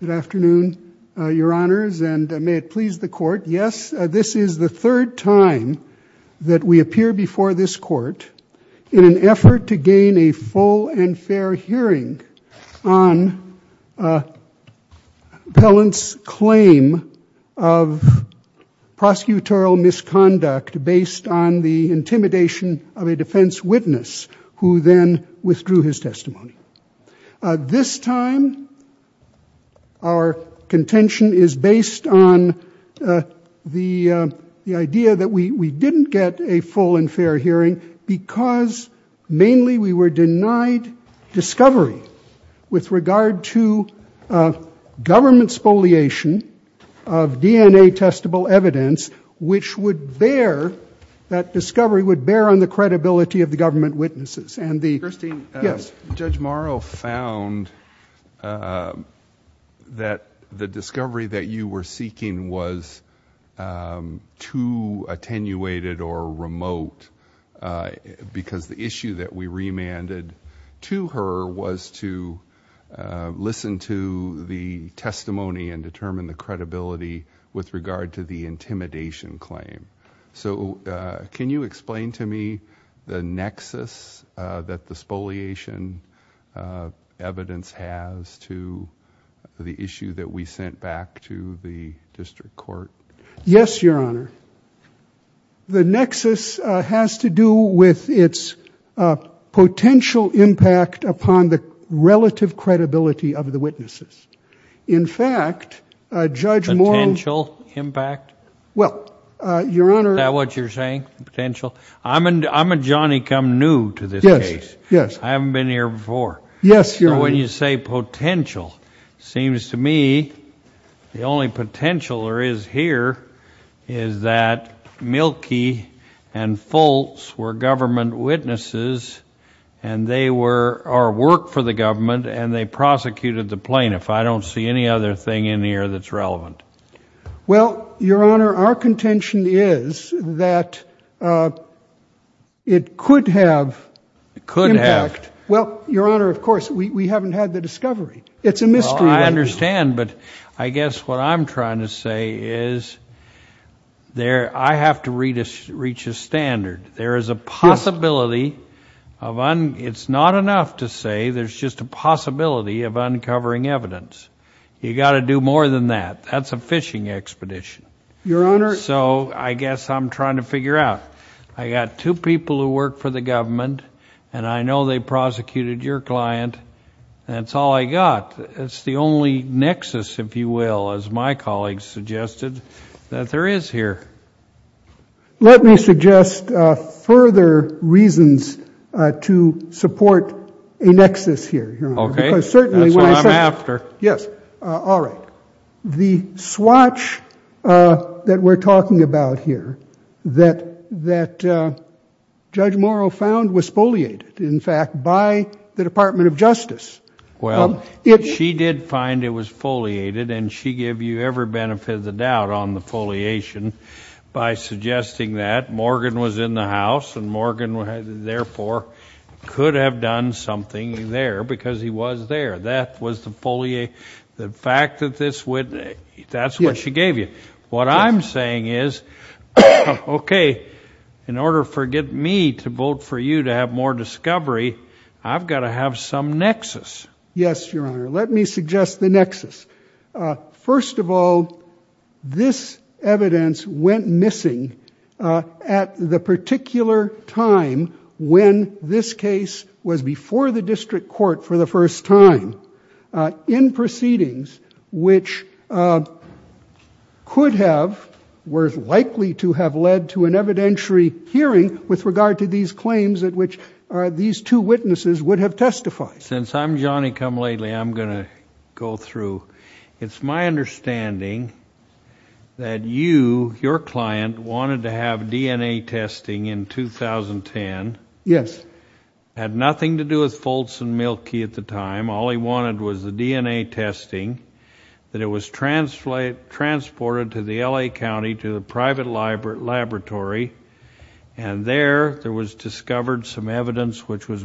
Good afternoon, your honors, and may it please the court, yes, this is the third time that we appear before this court in an effort to gain a full and fair hearing on Pellant's claim of prosecutorial misconduct based on the intimidation of a defense witness who then withdrew his testimony. This time our contention is based on the idea that we didn't get a full and fair hearing because mainly we were denied discovery with regard to government spoliation of DNA testable evidence which would bear, that discovery would credibility of the government witnesses and the, yes, Judge Morrow found that the discovery that you were seeking was too attenuated or remote because the issue that we remanded to her was to listen to the testimony and determine the nexus that the spoliation evidence has to the issue that we sent back to the district court. Yes, your honor, the nexus has to do with its potential impact upon the relative credibility of the witnesses. In fact, Judge Morrow... Potential impact? Well, your honor... Is that what you're saying? Potential? I'm a Johnny come new to this case. Yes, yes. I haven't been here before. Yes, your honor. When you say potential, seems to me the only potential there is here is that Mielke and Foltz were government witnesses and they were, or worked for the government and they prosecuted the plaintiff. I don't see any other thing in here that's relevant. Well, your honor, our contention is that it could have impact. Well, your honor, of course, we haven't had the discovery. It's a mystery. I understand, but I guess what I'm trying to say is there, I have to reach a standard. There is a possibility of, it's not enough to say there's just a possibility of a fishing expedition. Your honor... So I guess I'm trying to figure out. I got two people who work for the government and I know they prosecuted your client. That's all I got. It's the only nexus, if you will, as my colleagues suggested, that there is here. Let me suggest further reasons to support a nexus here. Okay. That's what I'm after. Yes. All right. The swatch that we're talking about here that Judge Morrow found was foliated, in fact, by the Department of Justice. Well, she did find it was foliated and she gave you every benefit of the doubt on the foliation by suggesting that Morgan was in the house and Morgan, therefore, could have done something there because he was there. That was the foliate, the fact that this would, that's what she gave you. What I'm saying is, okay, in order for get me to vote for you to have more discovery, I've got to have some nexus. Yes, your honor. Let me suggest the nexus. First of all, this evidence went missing at the particular time when this case was before the district court for the first time in proceedings which could have, were likely to have, led to an evidentiary hearing with regard to these claims at which these two witnesses would have testified. Since I'm Johnny Come Lately, I'm going to go through. It's my understanding that you, your client, wanted to have DNA testing in 2010. Yes. It had nothing to do with Foltz and Mielke at the time. All he wanted was the DNA testing, that it was transported to the LA County, to the private laboratory, and there there was discovered some evidence which was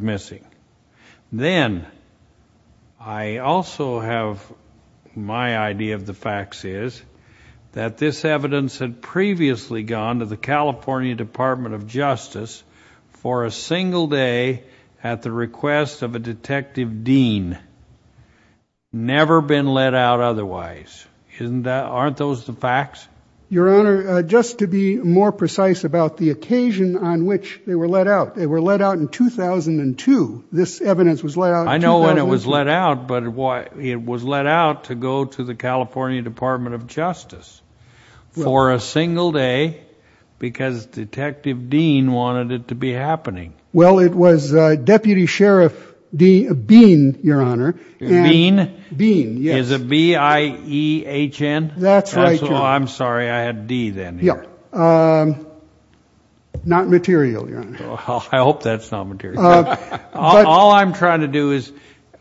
that this evidence had previously gone to the California Department of Justice for a single day at the request of a detective dean. Never been let out otherwise. Isn't that, aren't those the facts? Your honor, just to be more precise about the occasion on which they were let out. They were let out in 2002. This evidence was let out in 2002. I know when it was let out, but it was let out to go to the California Department of Justice for a single day because Detective Dean wanted it to be happening. Well, it was Deputy Sheriff Bean, your honor. Bean? Bean, yes. Is it B-I-E-H-N? That's right, your honor. I'm sorry, I had D then. Yeah, not material, your honor. I hope that's not material. All I'm trying to do is,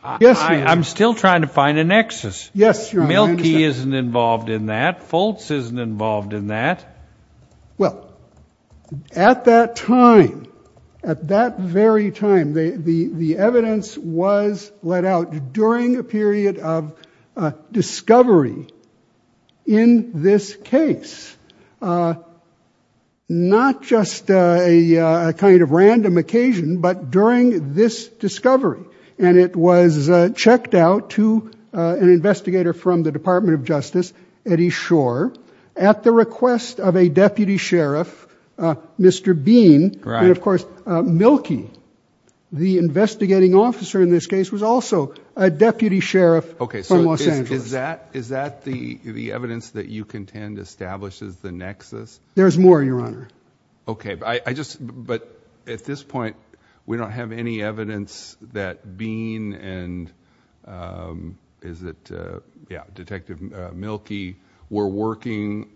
I'm still trying to find a He isn't involved in that. Foltz isn't involved in that. Well, at that time, at that very time, the evidence was let out during a period of discovery in this case. Not just a kind of random occasion, but during this discovery, and it was Justice Eddie Schor, at the request of a Deputy Sheriff, Mr. Bean, and of course, Milky, the investigating officer in this case, was also a Deputy Sheriff from Los Angeles. Okay, so is that the evidence that you contend establishes the nexus? There's more, your honor. Okay, but at this point, we don't have any Milky. We're working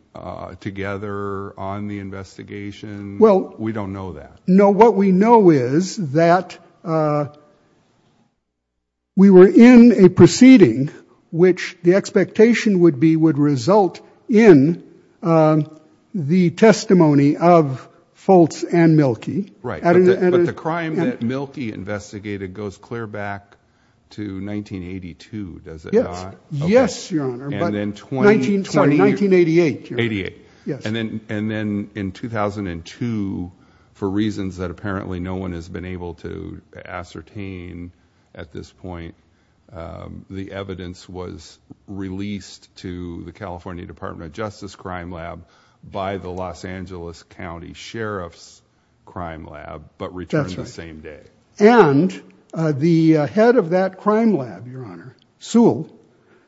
together on the investigation. Well, we don't know that. No, what we know is that we were in a proceeding which the expectation would be would result in the testimony of Foltz and Milky. Right, but the crime that 1988. And then in 2002, for reasons that apparently no one has been able to ascertain at this point, the evidence was released to the California Department of Justice Crime Lab by the Los Angeles County Sheriff's Crime Lab, but returned the same day. And the head of that crime lab, your honor, Sewell,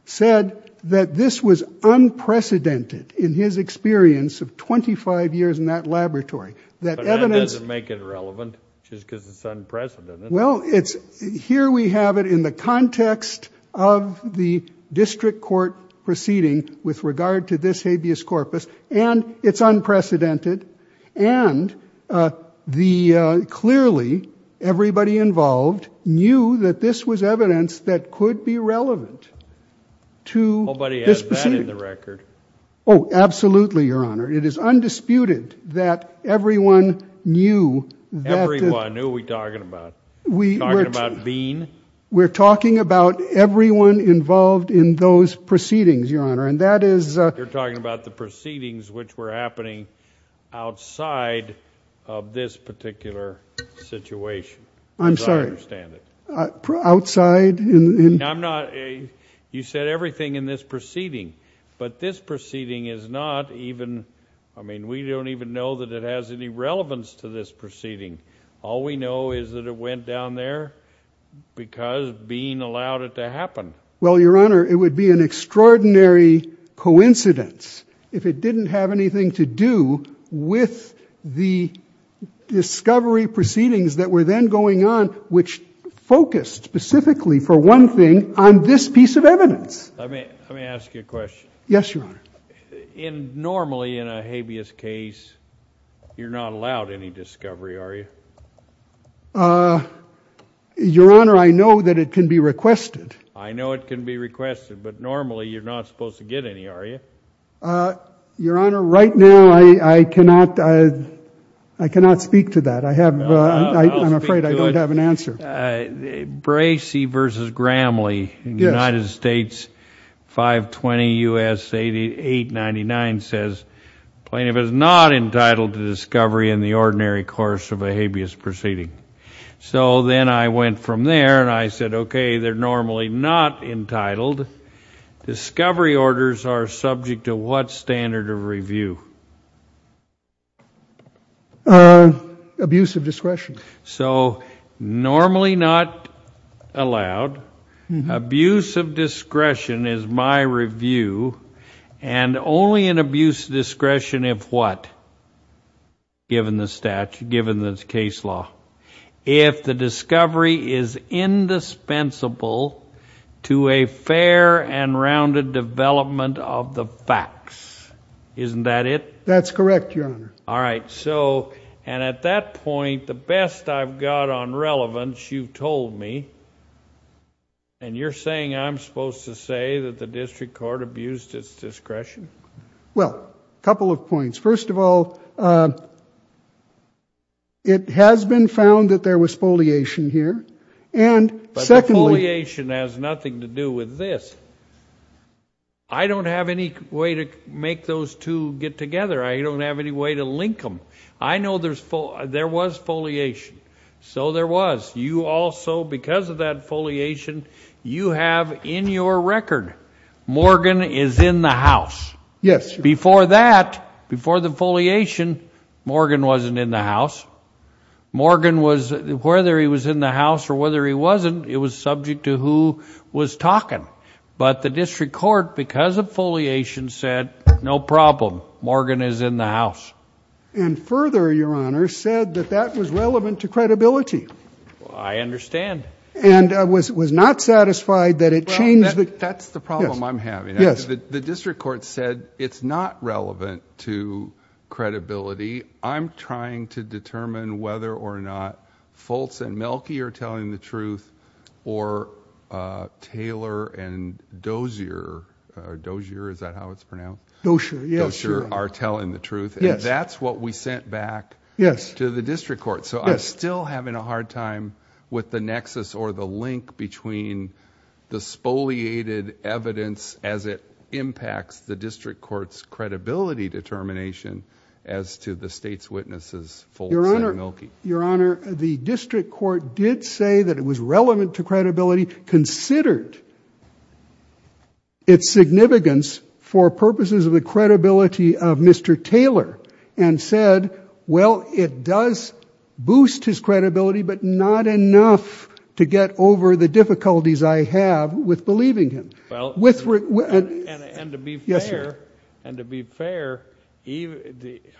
said that this was unprecedented in his experience of 25 years in that laboratory. That evidence... But that doesn't make it relevant, just because it's unprecedented. Well, it's... here we have it in the context of the district court proceeding with regard to this habeas corpus, and it's unprecedented, and the... clearly everybody involved knew that this was evidence that could be relevant to this proceeding. Nobody has that in the record. Oh, absolutely, your honor. It is undisputed that everyone knew that... Everyone? Who are we talking about? We're talking about Bean? We're talking about everyone involved in those proceedings, your honor, and that is... You're talking about the proceedings which were happening outside of this particular situation. I'm sorry. As I understand it. Outside? I'm not... you said everything in this proceeding, but this proceeding is not even... I mean, we don't even know that it has any relevance to this proceeding. All we know is that it went down there because Bean allowed it to happen. Well, your honor, it would be an extraordinary coincidence if it didn't have anything to do with the discovery proceedings that were then going on, which focused specifically, for one thing, on this piece of evidence. Let me... let me ask you a question. Yes, your honor. In... normally in a habeas case, you're not allowed any discovery, are you? Your honor, I know that it can be requested. I know it can be requested, but normally you're not supposed to get any, are you? Your honor, right now I cannot... I cannot speak to that. I have... I'm afraid I don't have an answer. Bracey v. Gramley, United States, 520 U.S. 8899, says plaintiff is not entitled to discovery in the ordinary course of a habeas proceeding. So then I went from there, and I said, okay, they're normally not entitled. Discovery orders are subject to what standard of review? Abuse of discretion. So normally not allowed. Abuse of discretion is my review, and only in this case law. If the discovery is indispensable to a fair and rounded development of the facts, isn't that it? That's correct, your honor. All right, so, and at that point, the best I've got on relevance, you told me, and you're saying I'm supposed to say that the district court abused its discretion? Well, a couple of points. First of all, it has been found that there was foliation here, and secondly... But the foliation has nothing to do with this. I don't have any way to make those two get together. I don't have any way to link them. I know there was foliation, so there was. You also, because of that Morgan is in the house. Yes. Before that, before the foliation, Morgan wasn't in the house. Morgan was, whether he was in the house or whether he wasn't, it was subject to who was talking. But the district court, because of foliation, said no problem. Morgan is in the house. And further, your honor, said that that was relevant to credibility. I understand. And was not satisfied that it changed the... Yes. The district court said it's not relevant to credibility. I'm trying to determine whether or not Foltz and Mielke are telling the truth, or Taylor and Dozier, or Dozier, is that how it's pronounced? Dozier, yes. Dozier are telling the truth. Yes. That's what we sent back to the district that impacts the district court's credibility determination as to the state's witnesses, Foltz and Mielke. Your honor, the district court did say that it was relevant to credibility, considered its significance for purposes of the credibility of Mr. Taylor, and said, well, it does boost his credibility, but not enough to get over the difficulties I have with Mr. Taylor. And to be fair, and to be fair,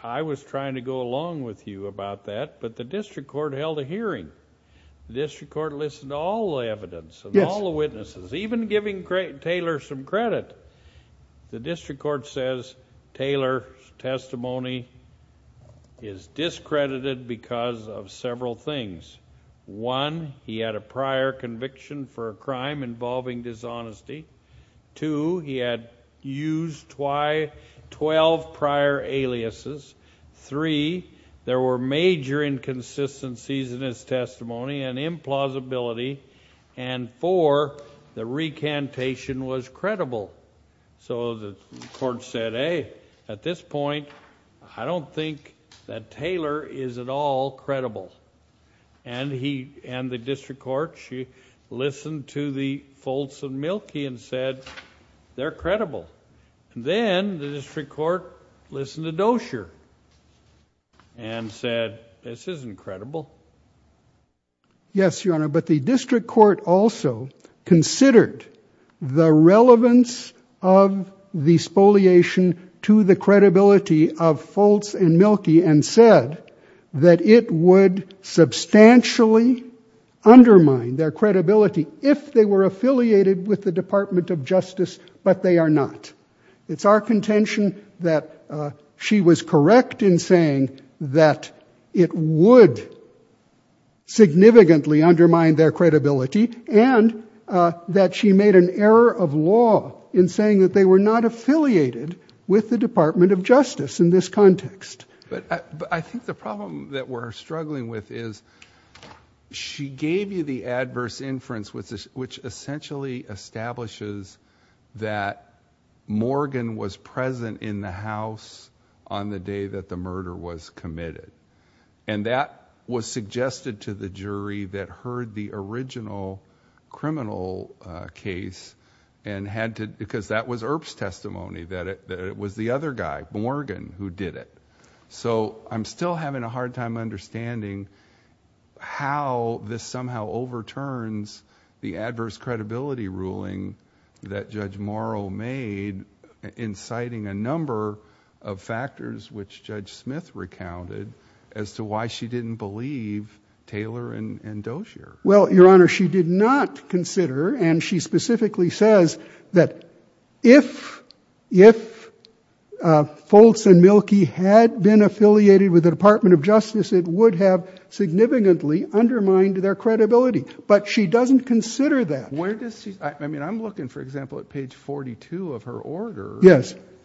I was trying to go along with you about that, but the district court held a hearing. The district court listened to all the evidence and all the witnesses, even giving Taylor some credit. The district court says Taylor's testimony is discredited because of several things. One, he had a prior conviction for a crime involving dishonesty. Two, he had used 12 prior aliases. Three, there were major inconsistencies in his testimony and implausibility, and four, the recantation was credible. So the court said, hey, at this point, I don't think that Taylor is at all credible. And he, and the district court, she listened to the Foltz and Mielke and said, they're credible. Then the district court listened to Dozier and said, this isn't credible. Yes, Your Honor, but the district court also considered the relevance of the spoliation to the credibility of Foltz and Mielke, and said that it would substantially undermine their credibility if they were affiliated with the Department of Justice, but they are not. It's our contention that she was correct in saying that it would significantly undermine their credibility, and that she made an error of law in saying that they were not affiliated with the Department of Justice in this context. But I think the problem that we're struggling with is she gave you the adverse inference, which essentially establishes that Morgan was present in the house on the day that the murder was committed, and that was suggested to the jury that heard the original criminal case and had to, because that was Earp's testimony, that it was the other guy, Morgan, who did it. So I'm still having a hard time understanding how this somehow overturns the adverse credibility ruling that Judge Morrow made, inciting a number of factors which Judge Smith recounted as to why she didn't believe Taylor and Dozier. Well, Your Honor, she did not consider, and she specifically says that if Foltz and Mielke had been affiliated with the Department of Justice, it would have significantly undermined their credibility, but she doesn't consider that. I mean, I'm looking, for example, at page 42 of her order,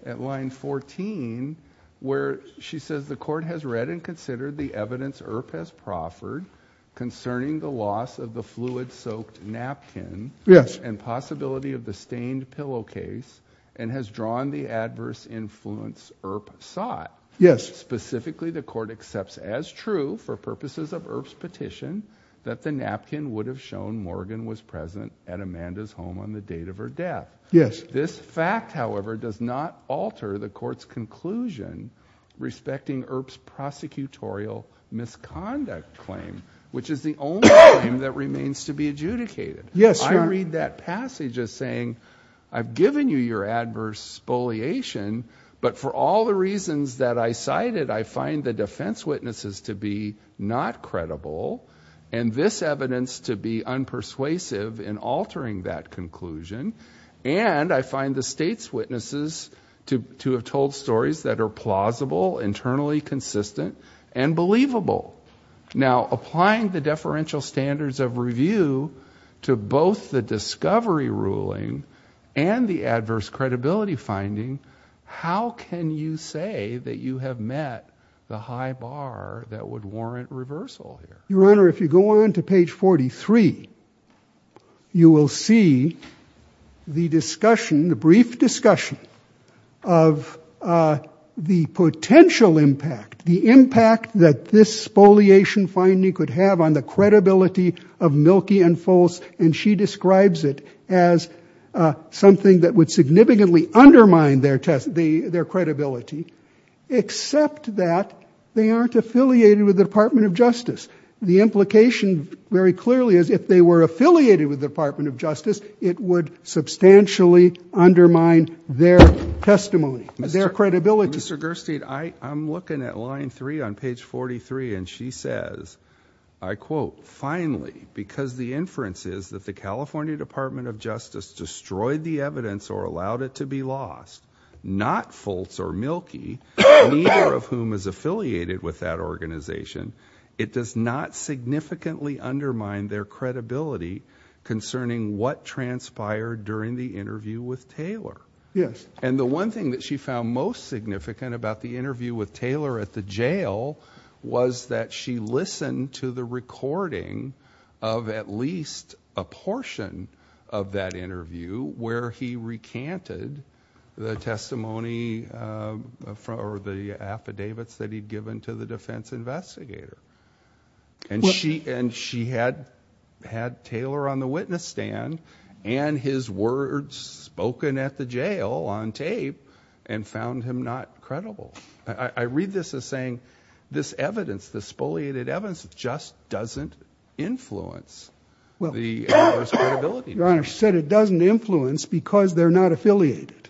at line 14, where she says the court has read and considered the evidence Earp has proffered concerning the loss of the fluid-soaked napkin and possibility of the stained pillowcase, and has drawn the adverse influence Earp sought. Specifically, the court accepts as true, for purposes of Earp's petition, that the napkin would have shown Morgan was present at Amanda's home on the date of her death. This fact, however, does not alter the court's conclusion respecting Earp's prosecutorial misconduct claim, which is the only claim that remains to be adjudicated. I read that passage as saying, I've given you your adverse spoliation, but for all the reasons that I cited, I find the defense witnesses to be not credible, and this evidence to be unpersuasive in altering that conclusion, and I find the state's witnesses to have told stories that are plausible, internally consistent, and believable. Now, applying the deferential standards of review to both the discovery ruling and the adverse credibility finding, how can you say that you have met the high bar that would warrant reversal here? Your Honor, if you go on to page 43, you will see the discussion, the brief discussion, of the potential impact, the impact that this spoliation finding could have on the credibility of Mielke and Foles, and she describes it as something that would significantly undermine their credibility, except that they aren't affiliated with the Department of Justice. The implication, very clearly, is if they were affiliated with the Department of Justice, it would substantially undermine their testimony, their credibility. Mr. Gerstein, I'm looking at line three on page 43, and she says, I quote, finally, because the inference is that the California Department of Justice destroyed the evidence or allowed it to be lost, not Foles or Mielke, neither of whom is affiliated with that organization. It does not significantly undermine their credibility concerning what transpired during the interview with Taylor. Yes. And she had Taylor on the witness stand, and his words spoken at the jail on tape, and found him not credible. I read this as saying, this evidence, this spoliated evidence, just doesn't influence the adverse credibility. Your Honor, she said it doesn't influence because they're not affiliated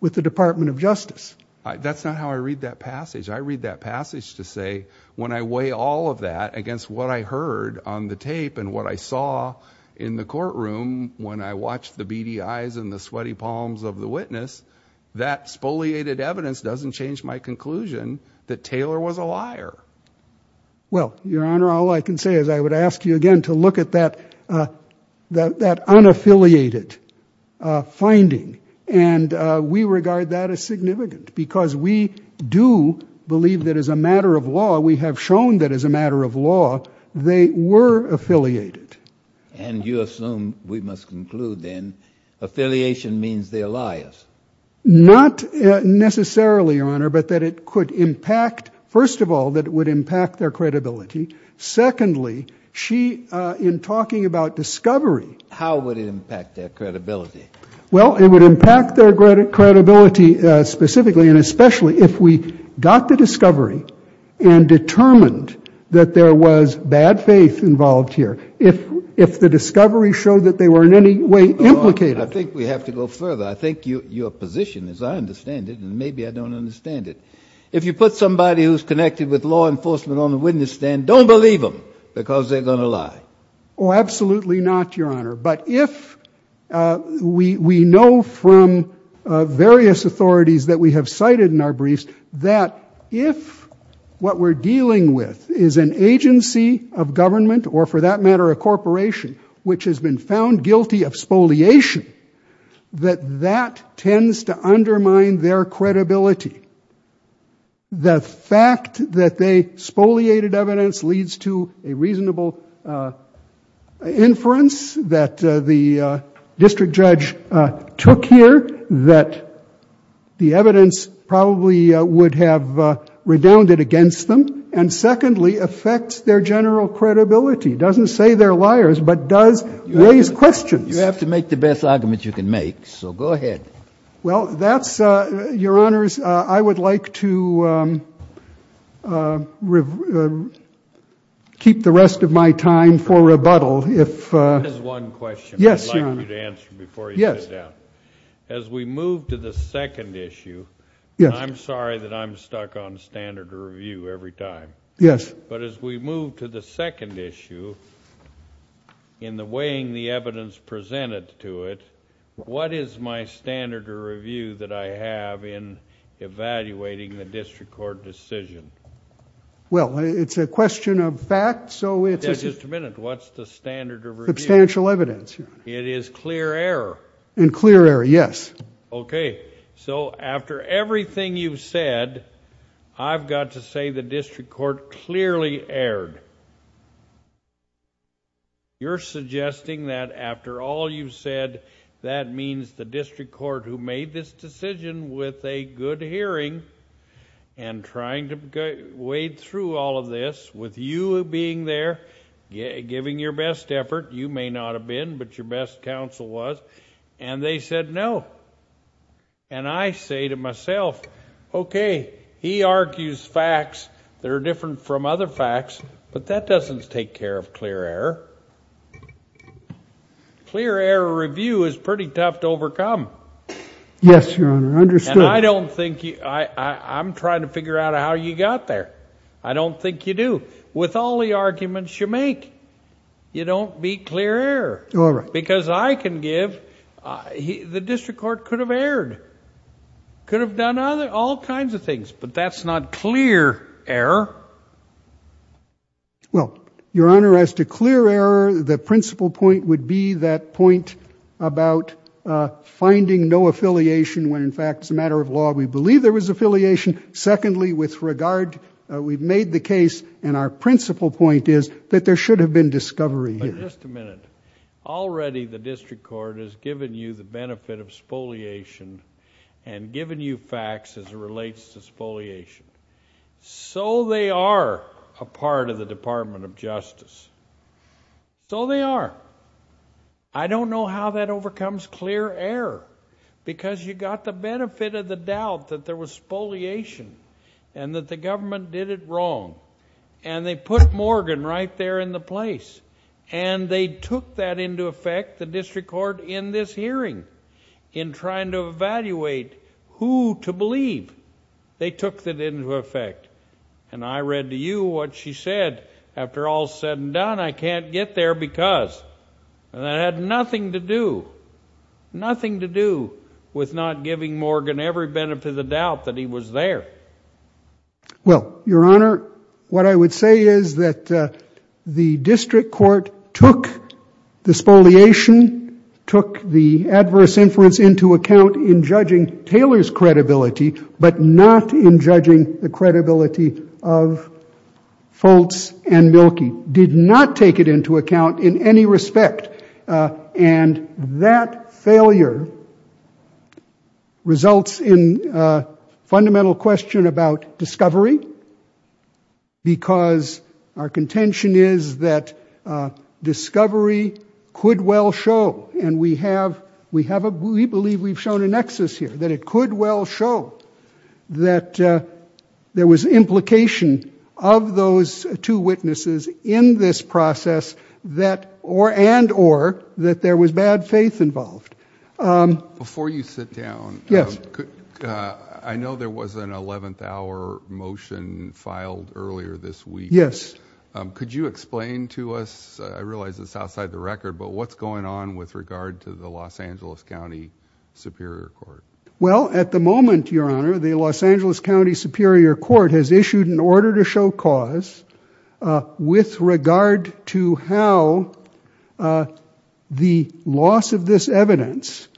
with the Department of Justice. That's not how I read that passage. I read that passage to say, when I weigh all of that against what I heard on the tape and what I saw in the courtroom when I watched the beady eyes and the sweaty palms of the witness, that spoliated evidence doesn't change my conclusion that Taylor was a liar. Well, Your Honor, all I can say is I would ask you again to look at that unaffiliated finding, and we regard that as significant because we do believe that as a matter of law, we have shown that as a matter of law, they were affiliated. And you assume, we must conclude then, affiliation means they're liars. Not necessarily, Your Honor, but that it could impact, first of all, that it would impact their credibility. Secondly, she, in talking about discovery. How would it impact their credibility? Well, it would impact their credibility specifically and especially if we got the discovery and determined that there was bad faith involved here. If the discovery showed that they were in any way implicated. I think we have to go further. I think your position, as I understand it, and maybe I don't understand it, if you put somebody who's connected with law enforcement on the witness stand, don't believe them because they're going to lie. Oh, absolutely not, Your Honor. But if we know from various authorities that we have cited in our briefs that if what we're dealing with is an agency of government, or for that matter, a corporation, which has been found guilty of spoliation, that that tends to undermine their credibility. The fact that they spoliated evidence leads to a reasonable inference that the district judge took here that the evidence probably would have redounded against them. And secondly, affects their general credibility. Doesn't say they're liars, but does raise questions. You have to make the best argument you can make, so go ahead. Well, that's, Your Honors, I would like to keep the rest of my time for rebuttal. That is one question I'd like you to answer before you sit down. As we move to the second issue, and I'm sorry that I'm stuck on standard review every time. Yes. But as we move to the second issue, in the weighing the evidence presented to it, what is my standard of review that I have in evaluating the district court decision? Well, it's a question of fact, so it's... Just a minute. What's the standard of review? Substantial evidence, Your Honor. It is clear error. And clear error, yes. Okay, so after everything you've said, I've got to say the district court clearly erred. You're suggesting that after all you've said, that means the district court who made this decision with a good hearing and trying to wade through all of this, with you being there, giving your best effort, you may not have been, but your best counsel was, and they said no. And I say to myself, okay, he argues facts that are different from other facts, but that doesn't take care of clear error. Clear error review is pretty tough to overcome. Yes, Your Honor, understood. And I don't think... I'm trying to figure out how you got there. I don't think you do. With all the arguments you make, you don't beat clear error. All right. Because I can give... the district court could have erred, could have done all kinds of things, but that's not clear error. Well, Your Honor, as to clear error, the principal point would be that point about finding no affiliation when, in fact, it's a matter of law. We believe there was affiliation. Secondly, with regard... we've made the case, and our principal point is that there should have been discovery here. But just a minute. Already the district court has given you the benefit of spoliation and given you facts as it relates to spoliation. So they are a part of the Department of Justice. So they are. I don't know how that overcomes clear error. Because you got the benefit of the doubt that there was spoliation and that the government did it wrong. And they put Morgan right there in the place. And they took that into effect, the district court, in this hearing in trying to evaluate who to believe. They took that into effect. And I read to you what she said after all is said and done. I can't get there because. And that had nothing to do, nothing to do with not giving Morgan every benefit of the doubt that he was there. Well, Your Honor, what I would say is that the district court took the spoliation, took the adverse inference into account in judging Taylor's credibility, but not in judging the credibility of Foltz and Mielke. Did not take it into account in any respect. And that failure results in a fundamental question about discovery. Because our contention is that discovery could well show, and we believe we've shown a nexus here, that it could well show that there was implication of those two witnesses in this process and or that there was bad faith involved. Before you sit down, I know there was an 11th hour motion filed earlier this week. Yes. Could you explain to us, I realize it's outside the record, but what's going on with regard to the Los Angeles County Superior Court? Well, at the moment, Your Honor, the Los Angeles County Superior Court has issued an order to show cause with regard to how the loss of this evidence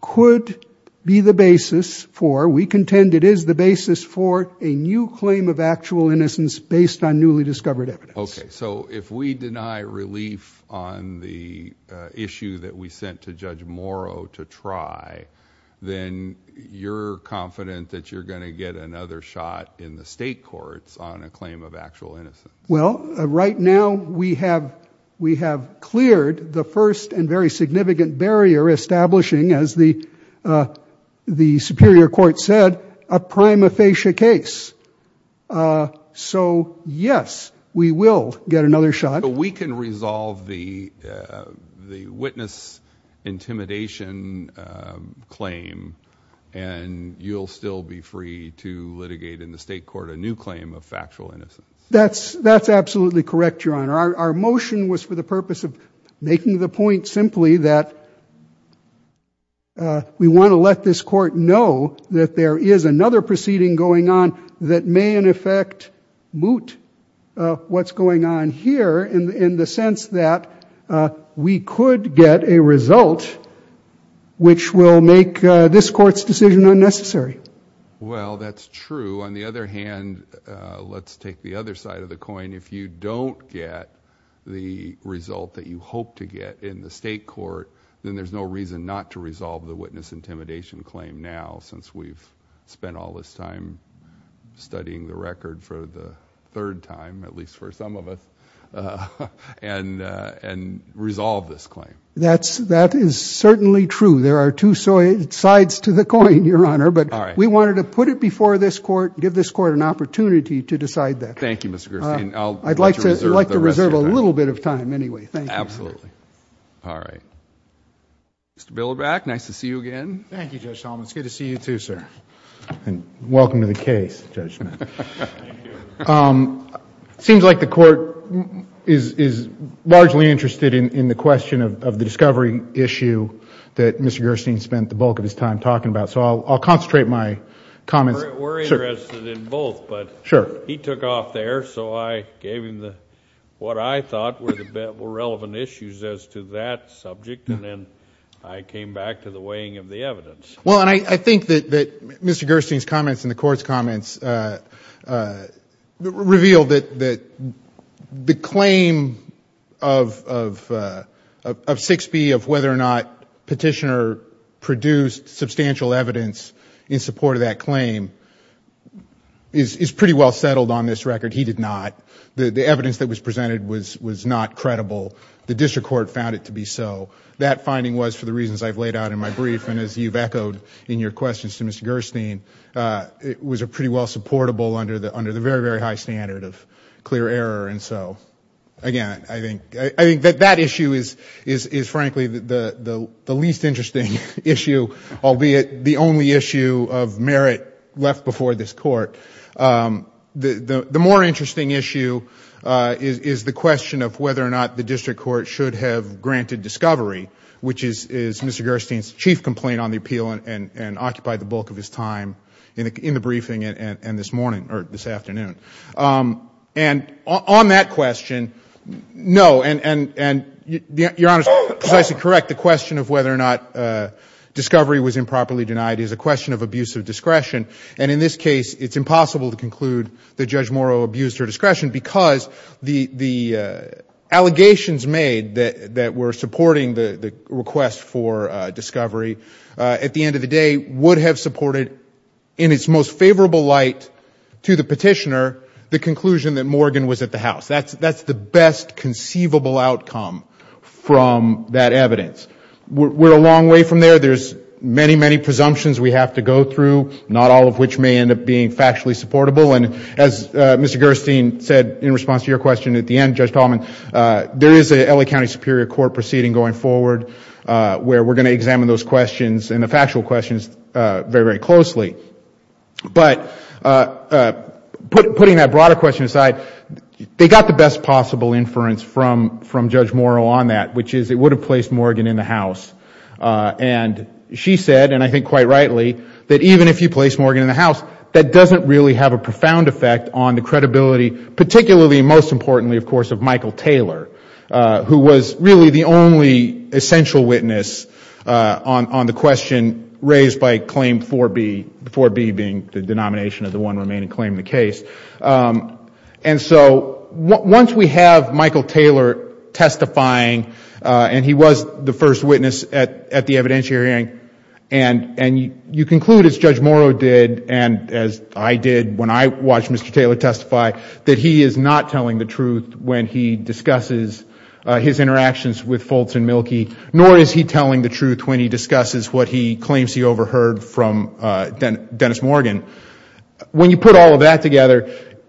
could be the basis for, we contend it is the basis for, a new claim of actual innocence based on newly discovered evidence. Okay. So if we deny relief on the issue that we sent to Judge Morrow to try, then you're confident that you're going to get another shot in the state courts on a claim of actual innocence? Well, right now we have cleared the first and very significant barrier establishing, as the Superior Court said, a prima facie case. So, yes, we will get another shot. So we can resolve the witness intimidation claim and you'll still be free to litigate in the state court a new claim of factual innocence? That's absolutely correct, Your Honor. Our motion was for the purpose of making the point simply that we want to let this court know that there is another proceeding going on that may in effect moot what's going on here in the sense that we could get a result which will make this court's decision unnecessary. Well, that's true. On the other hand, let's take the other side of the coin. If you don't get the result that you hope to get in the state court, then there's no reason not to resolve the witness intimidation claim now since we've spent all this time studying the record for the third time, at least for some of us, and resolve this claim. That is certainly true. There are two sides to the coin, Your Honor, but we wanted to put it before this court and give this court an opportunity to decide that. Thank you, Mr. Gerstein. I'd like to reserve a little bit of time anyway. Thank you. Absolutely. All right. Mr. Bilobac, nice to see you again. Thank you, Judge Solomon. It's good to see you too, sir. Welcome to the case, Judge Smith. Thank you. It seems like the court is largely interested in the question of the discovery issue that Mr. Gerstein spent the bulk of his time talking about, so I'll concentrate my comments... We're interested in both, but he took off there, so I gave him what I thought were relevant issues as to that subject, and then I came back to the weighing of the evidence. Well, and I think that Mr. Gerstein's comments and the court's comments reveal that the claim of 6B, of whether or not Petitioner produced substantial evidence in support of that claim, is pretty well settled on this record. He did not. The evidence that was presented was not credible. The district court found it to be so. That finding was for the reasons I've laid out in my brief, and as you've echoed in your questions to Mr. Gerstein, it was pretty well supportable under the very, very high standard of clear error. And so, again, I think that that issue is frankly the least interesting issue, albeit the only issue of merit left before this court. The more interesting issue is the question of whether or not the district court should have granted discovery, which is Mr. Gerstein's chief complaint on the appeal and occupied the bulk of his time in the briefing and this morning, or this afternoon. And on that question, no, and Your Honor is precisely correct. The question of whether or not discovery was improperly denied is a question of abusive discretion, and in this case it's impossible to conclude that Judge Morrow abused her discretion because the allegations made that were supporting the request for discovery, at the end of the day, would have supported, in its most favorable light to the petitioner, the conclusion that Morgan was at the house. That's the best conceivable outcome from that evidence. We're a long way from there. There's many, many presumptions we have to go through, not all of which may end up being factually supportable. And as Mr. Gerstein said in response to your question at the end, Judge Tallman, there is an L.A. County Superior Court proceeding going forward where we're going to examine those questions and the factual questions very, very closely. But putting that broader question aside, they got the best possible inference from Judge Morrow on that, which is it would have placed Morgan in the house. And she said, and I think quite rightly, that even if you place Morgan in the house, that doesn't really have a profound effect on the credibility, particularly and most importantly, of course, of Michael Taylor, who was really the only essential witness on the question raised by Claim 4B, 4B being the denomination of the one remaining claim in the case. And so once we have Michael Taylor testifying, and he was the first witness at the evidentiary hearing, and you conclude, as Judge Morrow did and as I did when I watched Mr. Taylor testify, that he is not telling the truth when he discusses his interactions with Fultz and Mielke, nor is he telling the truth when he discusses what he claims he overheard from Dennis Morgan. When you put all of that together,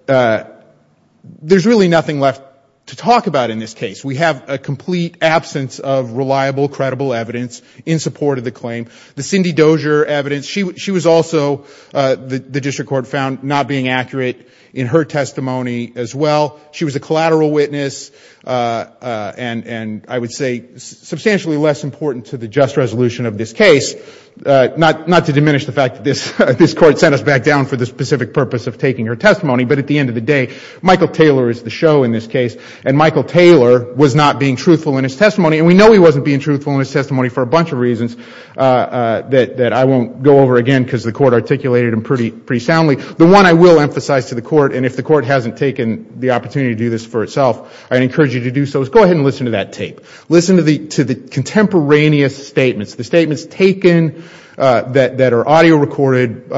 there's really nothing left to talk about in this case. We have a complete absence of reliable, credible evidence in support of the claim. The Cindy Dozier evidence, she was also, the district court found, not being accurate in her testimony as well. She was a collateral witness, and I would say substantially less important to the just resolution of this case, not to diminish the fact that this Court sent us back down for the specific purpose of taking her testimony, but at the end of the day, Michael Taylor is the show in this case, and Michael Taylor was not being truthful in his testimony. And we know he wasn't being truthful in his testimony for a bunch of reasons that I won't go over again because the Court articulated them pretty soundly. The one I will emphasize to the Court, and if the Court hasn't taken the opportunity to do this for itself, I encourage you to do so, is go ahead and listen to that tape. Listen to the contemporaneous statements. The statements taken that are audio recorded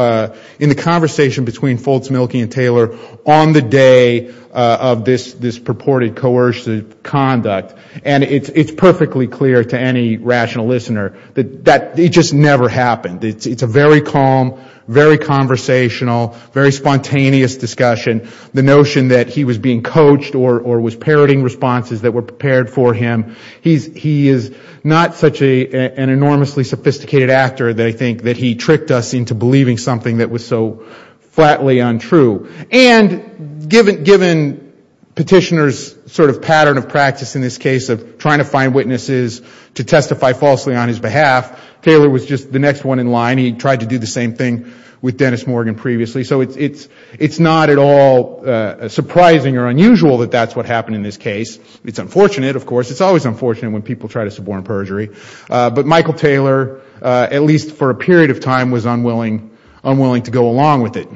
in the conversation between Fultz-Milkey and Taylor on the day of this purported coercive conduct. And it's perfectly clear to any rational listener that it just never happened. It's a very calm, very conversational, very spontaneous discussion. The notion that he was being coached or was parroting responses that were prepared for him, he is not such an enormously sophisticated actor that I think that he tricked us into believing something that was so flatly untrue. And given Petitioner's sort of pattern of practice in this case of trying to find witnesses to testify falsely on his behalf, Taylor was just the next one in line. He tried to do the same thing with Dennis Morgan previously. So it's not at all surprising or unusual that that's what happened in this case. It's unfortunate, of course. It's always unfortunate when people try to suborn perjury. But Michael Taylor, at least for a period of time, was unwilling to go along with it.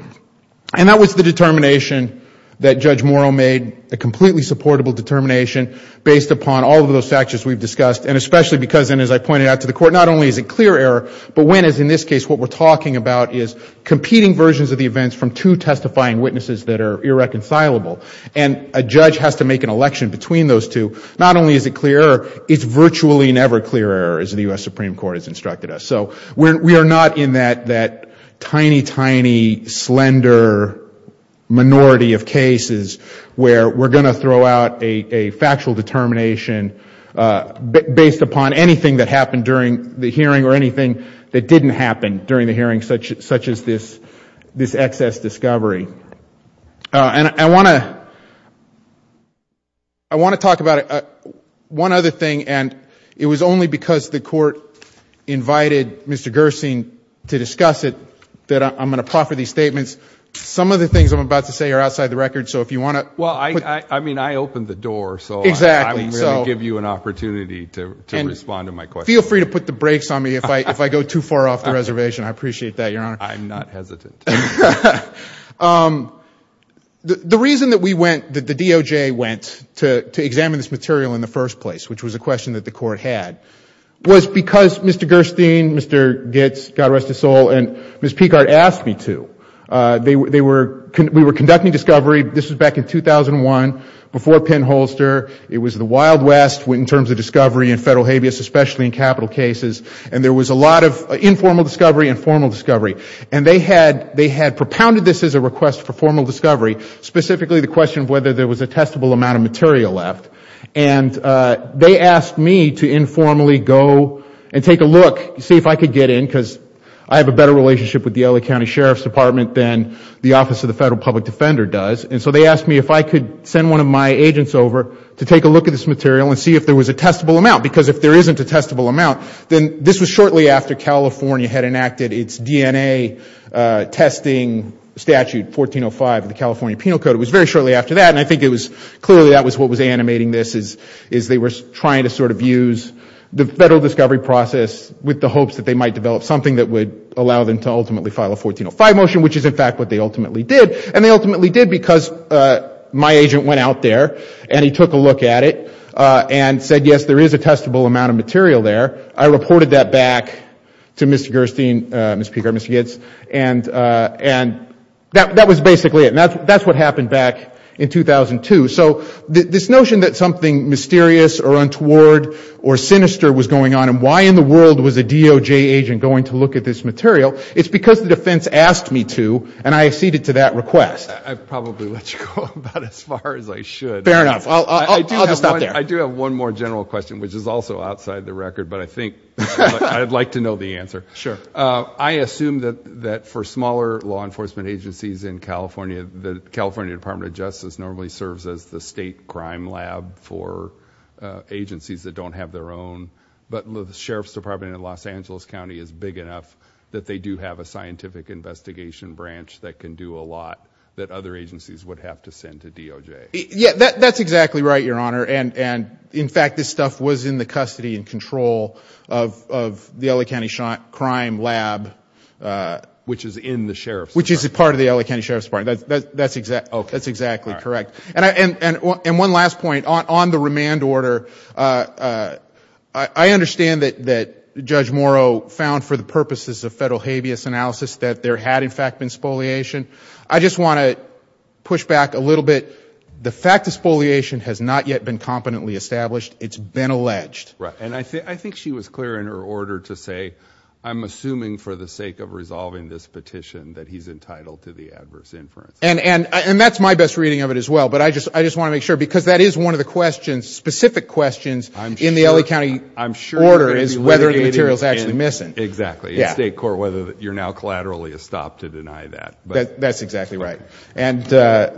And that was the determination that Judge Morrow made, a completely supportable determination, based upon all of those factors we've discussed. And especially because, and as I pointed out to the Court, not only is it clear error, but when, as in this case, what we're talking about is competing versions of the events from two testifying witnesses that are irreconcilable. And a judge has to make an election between those two. Not only is it clear error, it's virtually never clear error, as the U.S. Supreme Court has instructed us. So we are not in that tiny, tiny, slender minority of cases where we're going to throw out a factual determination based upon anything that happened during the hearing or anything that didn't happen during the hearing, such as this excess discovery. And I want to talk about one other thing. And it was only because the Court invited Mr. Gersing to discuss it that I'm going to proffer these statements. Some of the things I'm about to say are outside the record. So if you want to put them. Well, I mean, I opened the door. Exactly. So I will give you an opportunity to respond to my question. And feel free to put the brakes on me if I go too far off the reservation. I appreciate that, Your Honor. I'm not hesitant. The reason that we went, that the DOJ went to examine this material in the first place, which was a question that the Court had, was because Mr. Gersing, Mr. Gitts, God rest his soul, and Ms. Picard asked me to. We were conducting discovery. This was back in 2001, before Penn-Holster. It was the Wild West in terms of discovery in federal habeas, especially in capital cases. And there was a lot of informal discovery and formal discovery. And they had propounded this as a request for formal discovery, specifically the question of whether there was a testable amount of material left. And they asked me to informally go and take a look, see if I could get in, because I have a better relationship with the LA County Sheriff's Department than the Office of the Federal Public Defender does. And so they asked me if I could send one of my agents over to take a look at this material and see if there was a testable amount, because if there isn't a testable amount, then this was shortly after California had enacted its DNA testing statute, 1405, the California Penal Code. It was very shortly after that. And I think it was clearly that was what was animating this, is they were trying to sort of use the federal discovery process with the hopes that they might develop something that would allow them to ultimately file a 1405 motion, which is in fact what they ultimately did. And they ultimately did because my agent went out there and he took a look at it and said, yes, there is a testable amount of material there. I reported that back to Mr. Gerstein, Mr. Geertz, and that was basically it. And that's what happened back in 2002. So this notion that something mysterious or untoward or sinister was going on and why in the world was a DOJ agent going to look at this material, it's because the defense asked me to and I acceded to that request. I probably let you go about as far as I should. Fair enough. I'll just stop there. I do have one more general question, which is also outside the record, but I think I'd like to know the answer. Sure. I assume that for smaller law enforcement agencies in California, the California Department of Justice normally serves as the state crime lab for agencies that don't have their own, but the Sheriff's Department in Los Angeles County is big enough that they do have a scientific investigation branch that can do a lot that other agencies would have to send to DOJ. Yeah, that's exactly right, Your Honor. And, in fact, this stuff was in the custody and control of the LA County Crime Lab. Which is in the Sheriff's Department. Which is part of the LA County Sheriff's Department. That's exactly correct. And one last point. On the remand order, I understand that Judge Morrow found for the purposes of federal habeas analysis that there had, in fact, been spoliation. I just want to push back a little bit. The fact of spoliation has not yet been competently established. It's been alleged. Right. And I think she was clear in her order to say, I'm assuming for the sake of resolving this petition that he's entitled to the adverse inference. And that's my best reading of it as well. But I just want to make sure, because that is one of the specific questions in the LA County order is whether the material is actually missing. Exactly. In state court, whether you're now collaterally estopped to deny that. That's exactly right. And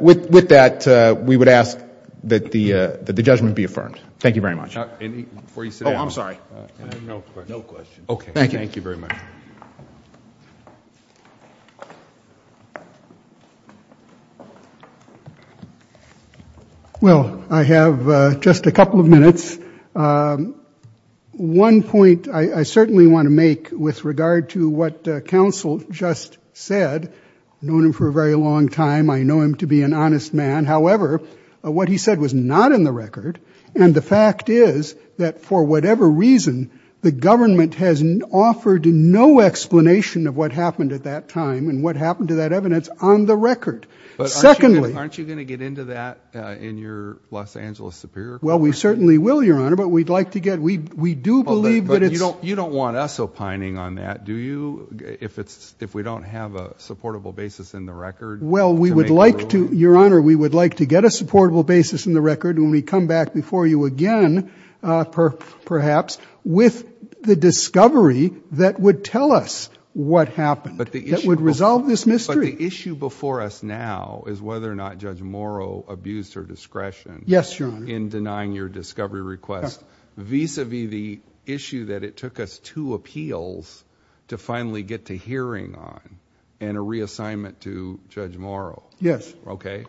with that, we would ask that the judgment be affirmed. Thank you very much. Before you sit down. Oh, I'm sorry. No questions. Okay. Thank you. Thank you very much. Well, I have just a couple of minutes. One point I certainly want to make with regard to what counsel just said. I've known him for a very long time. I know him to be an honest man. However, what he said was not in the record. And the fact is that for whatever reason, the government has offered no explanation of what happened at that time and what happened to that evidence on the record. But aren't you going to get into that in your Los Angeles Superior Court? Well, we certainly will, Your Honor, but we'd like to get, we do believe that it's. You don't want us opining on that, do you? If we don't have a supportable basis in the record. Well, we would like to, Your Honor, we would like to get a supportable basis in the record when we come back before you again, perhaps with the discovery that would tell us what happened. That would resolve this mystery. But the issue before us now is whether or not Judge Morrow abused her discretion. Yes, Your Honor. In denying your discovery request. Vis-a-vis the issue that it took us two appeals to finally get to hearing on and a reassignment to Judge Morrow. Yes. Okay.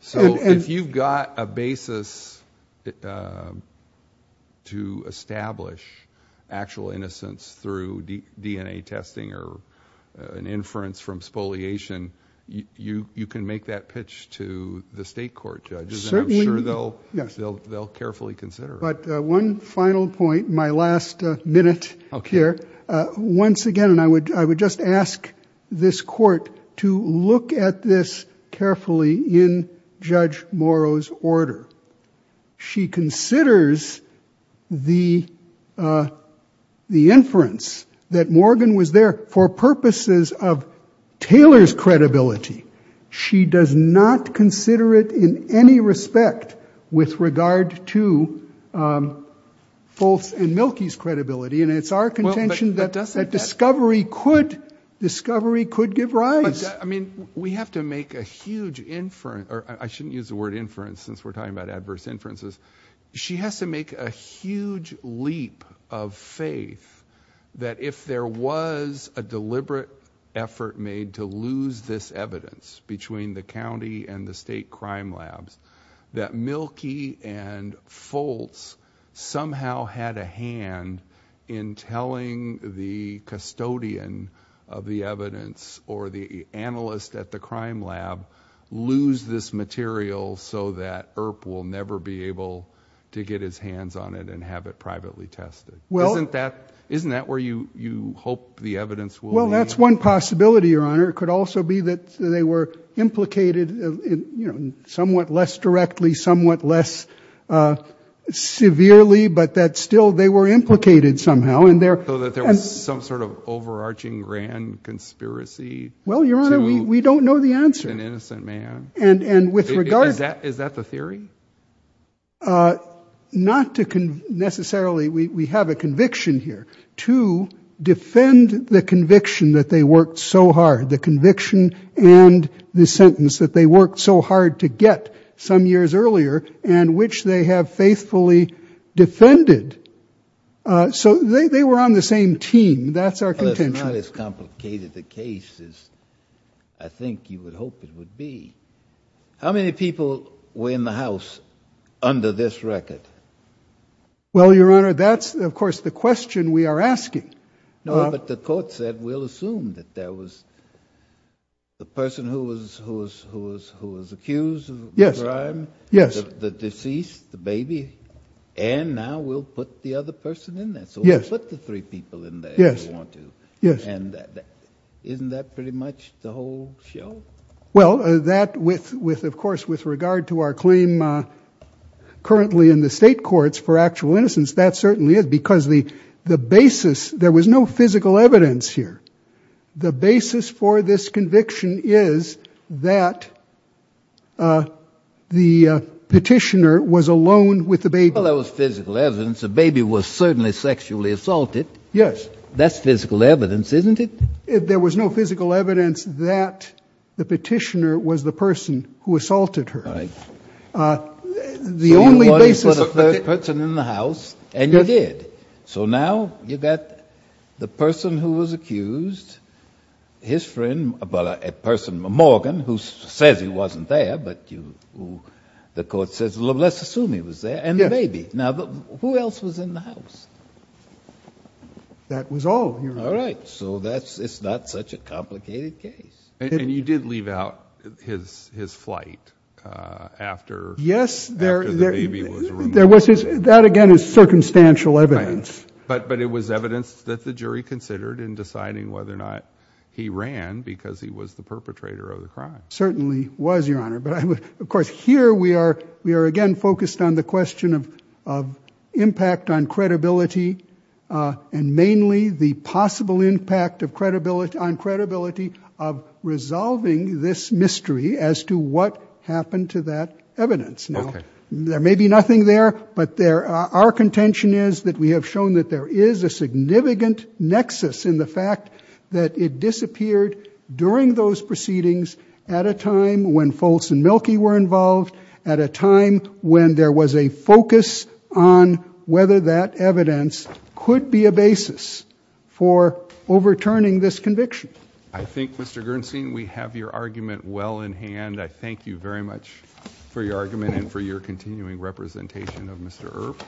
So if you've got a basis to establish actual innocence through DNA testing or an inference from spoliation, you can make that pitch to the state court, Judge. And I'm sure they'll carefully consider it. But one final point, my last minute here. Once again, and I would just ask this court to look at this carefully in Judge Morrow's order. She considers the inference that Morgan was there for purposes of Taylor's credibility. She does not consider it in any respect with regard to Foltz and Mielke's credibility. And it's our contention that discovery could give rise. I mean, we have to make a huge inference. I shouldn't use the word inference since we're talking about adverse inferences. She has to make a huge leap of faith that if there was a deliberate effort made to lose this evidence between the county and the state crime labs, that Mielke and Foltz somehow had a hand in telling the custodian of the evidence or the analyst at the crime lab, lose this material so that Earp will never be able to get his hands on it and have it privately tested. Isn't that where you hope the evidence will be? Well, that's one possibility, Your Honor. It could also be that they were implicated somewhat less directly, somewhat less severely, but that still they were implicated somehow. So that there was some sort of overarching grand conspiracy? Well, Your Honor, we don't know the answer. To an innocent man. Is that the theory? Not necessarily. We have a conviction here to defend the conviction that they worked so hard, the conviction and the sentence that they worked so hard to get some years earlier and which they have faithfully defended. So they were on the same team. That's our contention. It's not as complicated a case as I think you would hope it would be. How many people were in the house under this record? Well, Your Honor, that's, of course, the question we are asking. No, but the court said we'll assume that there was the person who was accused of the crime, the deceased, the baby, and now we'll put the other person in there. So we'll put the three people in there if we want to. And isn't that pretty much the whole show? Well, that with, of course, with regard to our claim currently in the state courts for actual innocence, that certainly is, because the basis, there was no physical evidence here. The basis for this conviction is that the petitioner was alone with the baby. Well, there was physical evidence. The baby was certainly sexually assaulted. Yes. That's physical evidence, isn't it? There was no physical evidence that the petitioner was the person who assaulted her. All right. The only basis of the case. You wanted to put a third person in the house, and you did. So now you've got the person who was accused, his friend, well, a person, Morgan, who says he wasn't there, but you, the court says, well, let's assume he was there, and the baby. Now, who else was in the house? That was all, Your Honor. All right. So it's not such a complicated case. And you did leave out his flight after the baby was removed. That, again, is circumstantial evidence. But it was evidence that the jury considered in deciding whether or not he ran because he was the perpetrator of the crime. Certainly was, Your Honor. But, of course, here we are, again, focused on the question of impact on credibility, and mainly the possible impact on credibility of resolving this mystery as to what happened to that evidence. Now, there may be nothing there, but our contention is that we have shown that there is a significant nexus in the fact that it disappeared during those proceedings at a time when Foltz and Mielke were involved, at a time when there was a focus on whether that evidence could be a basis for overturning this conviction. I think, Mr. Gernstein, we have your argument well in hand. I thank you very much for your argument and for your continuing representation of Mr. Earp,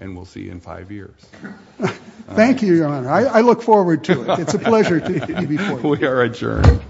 and we'll see you in five years. Thank you, Your Honor. I look forward to it. It's a pleasure to be before you. We are adjourned.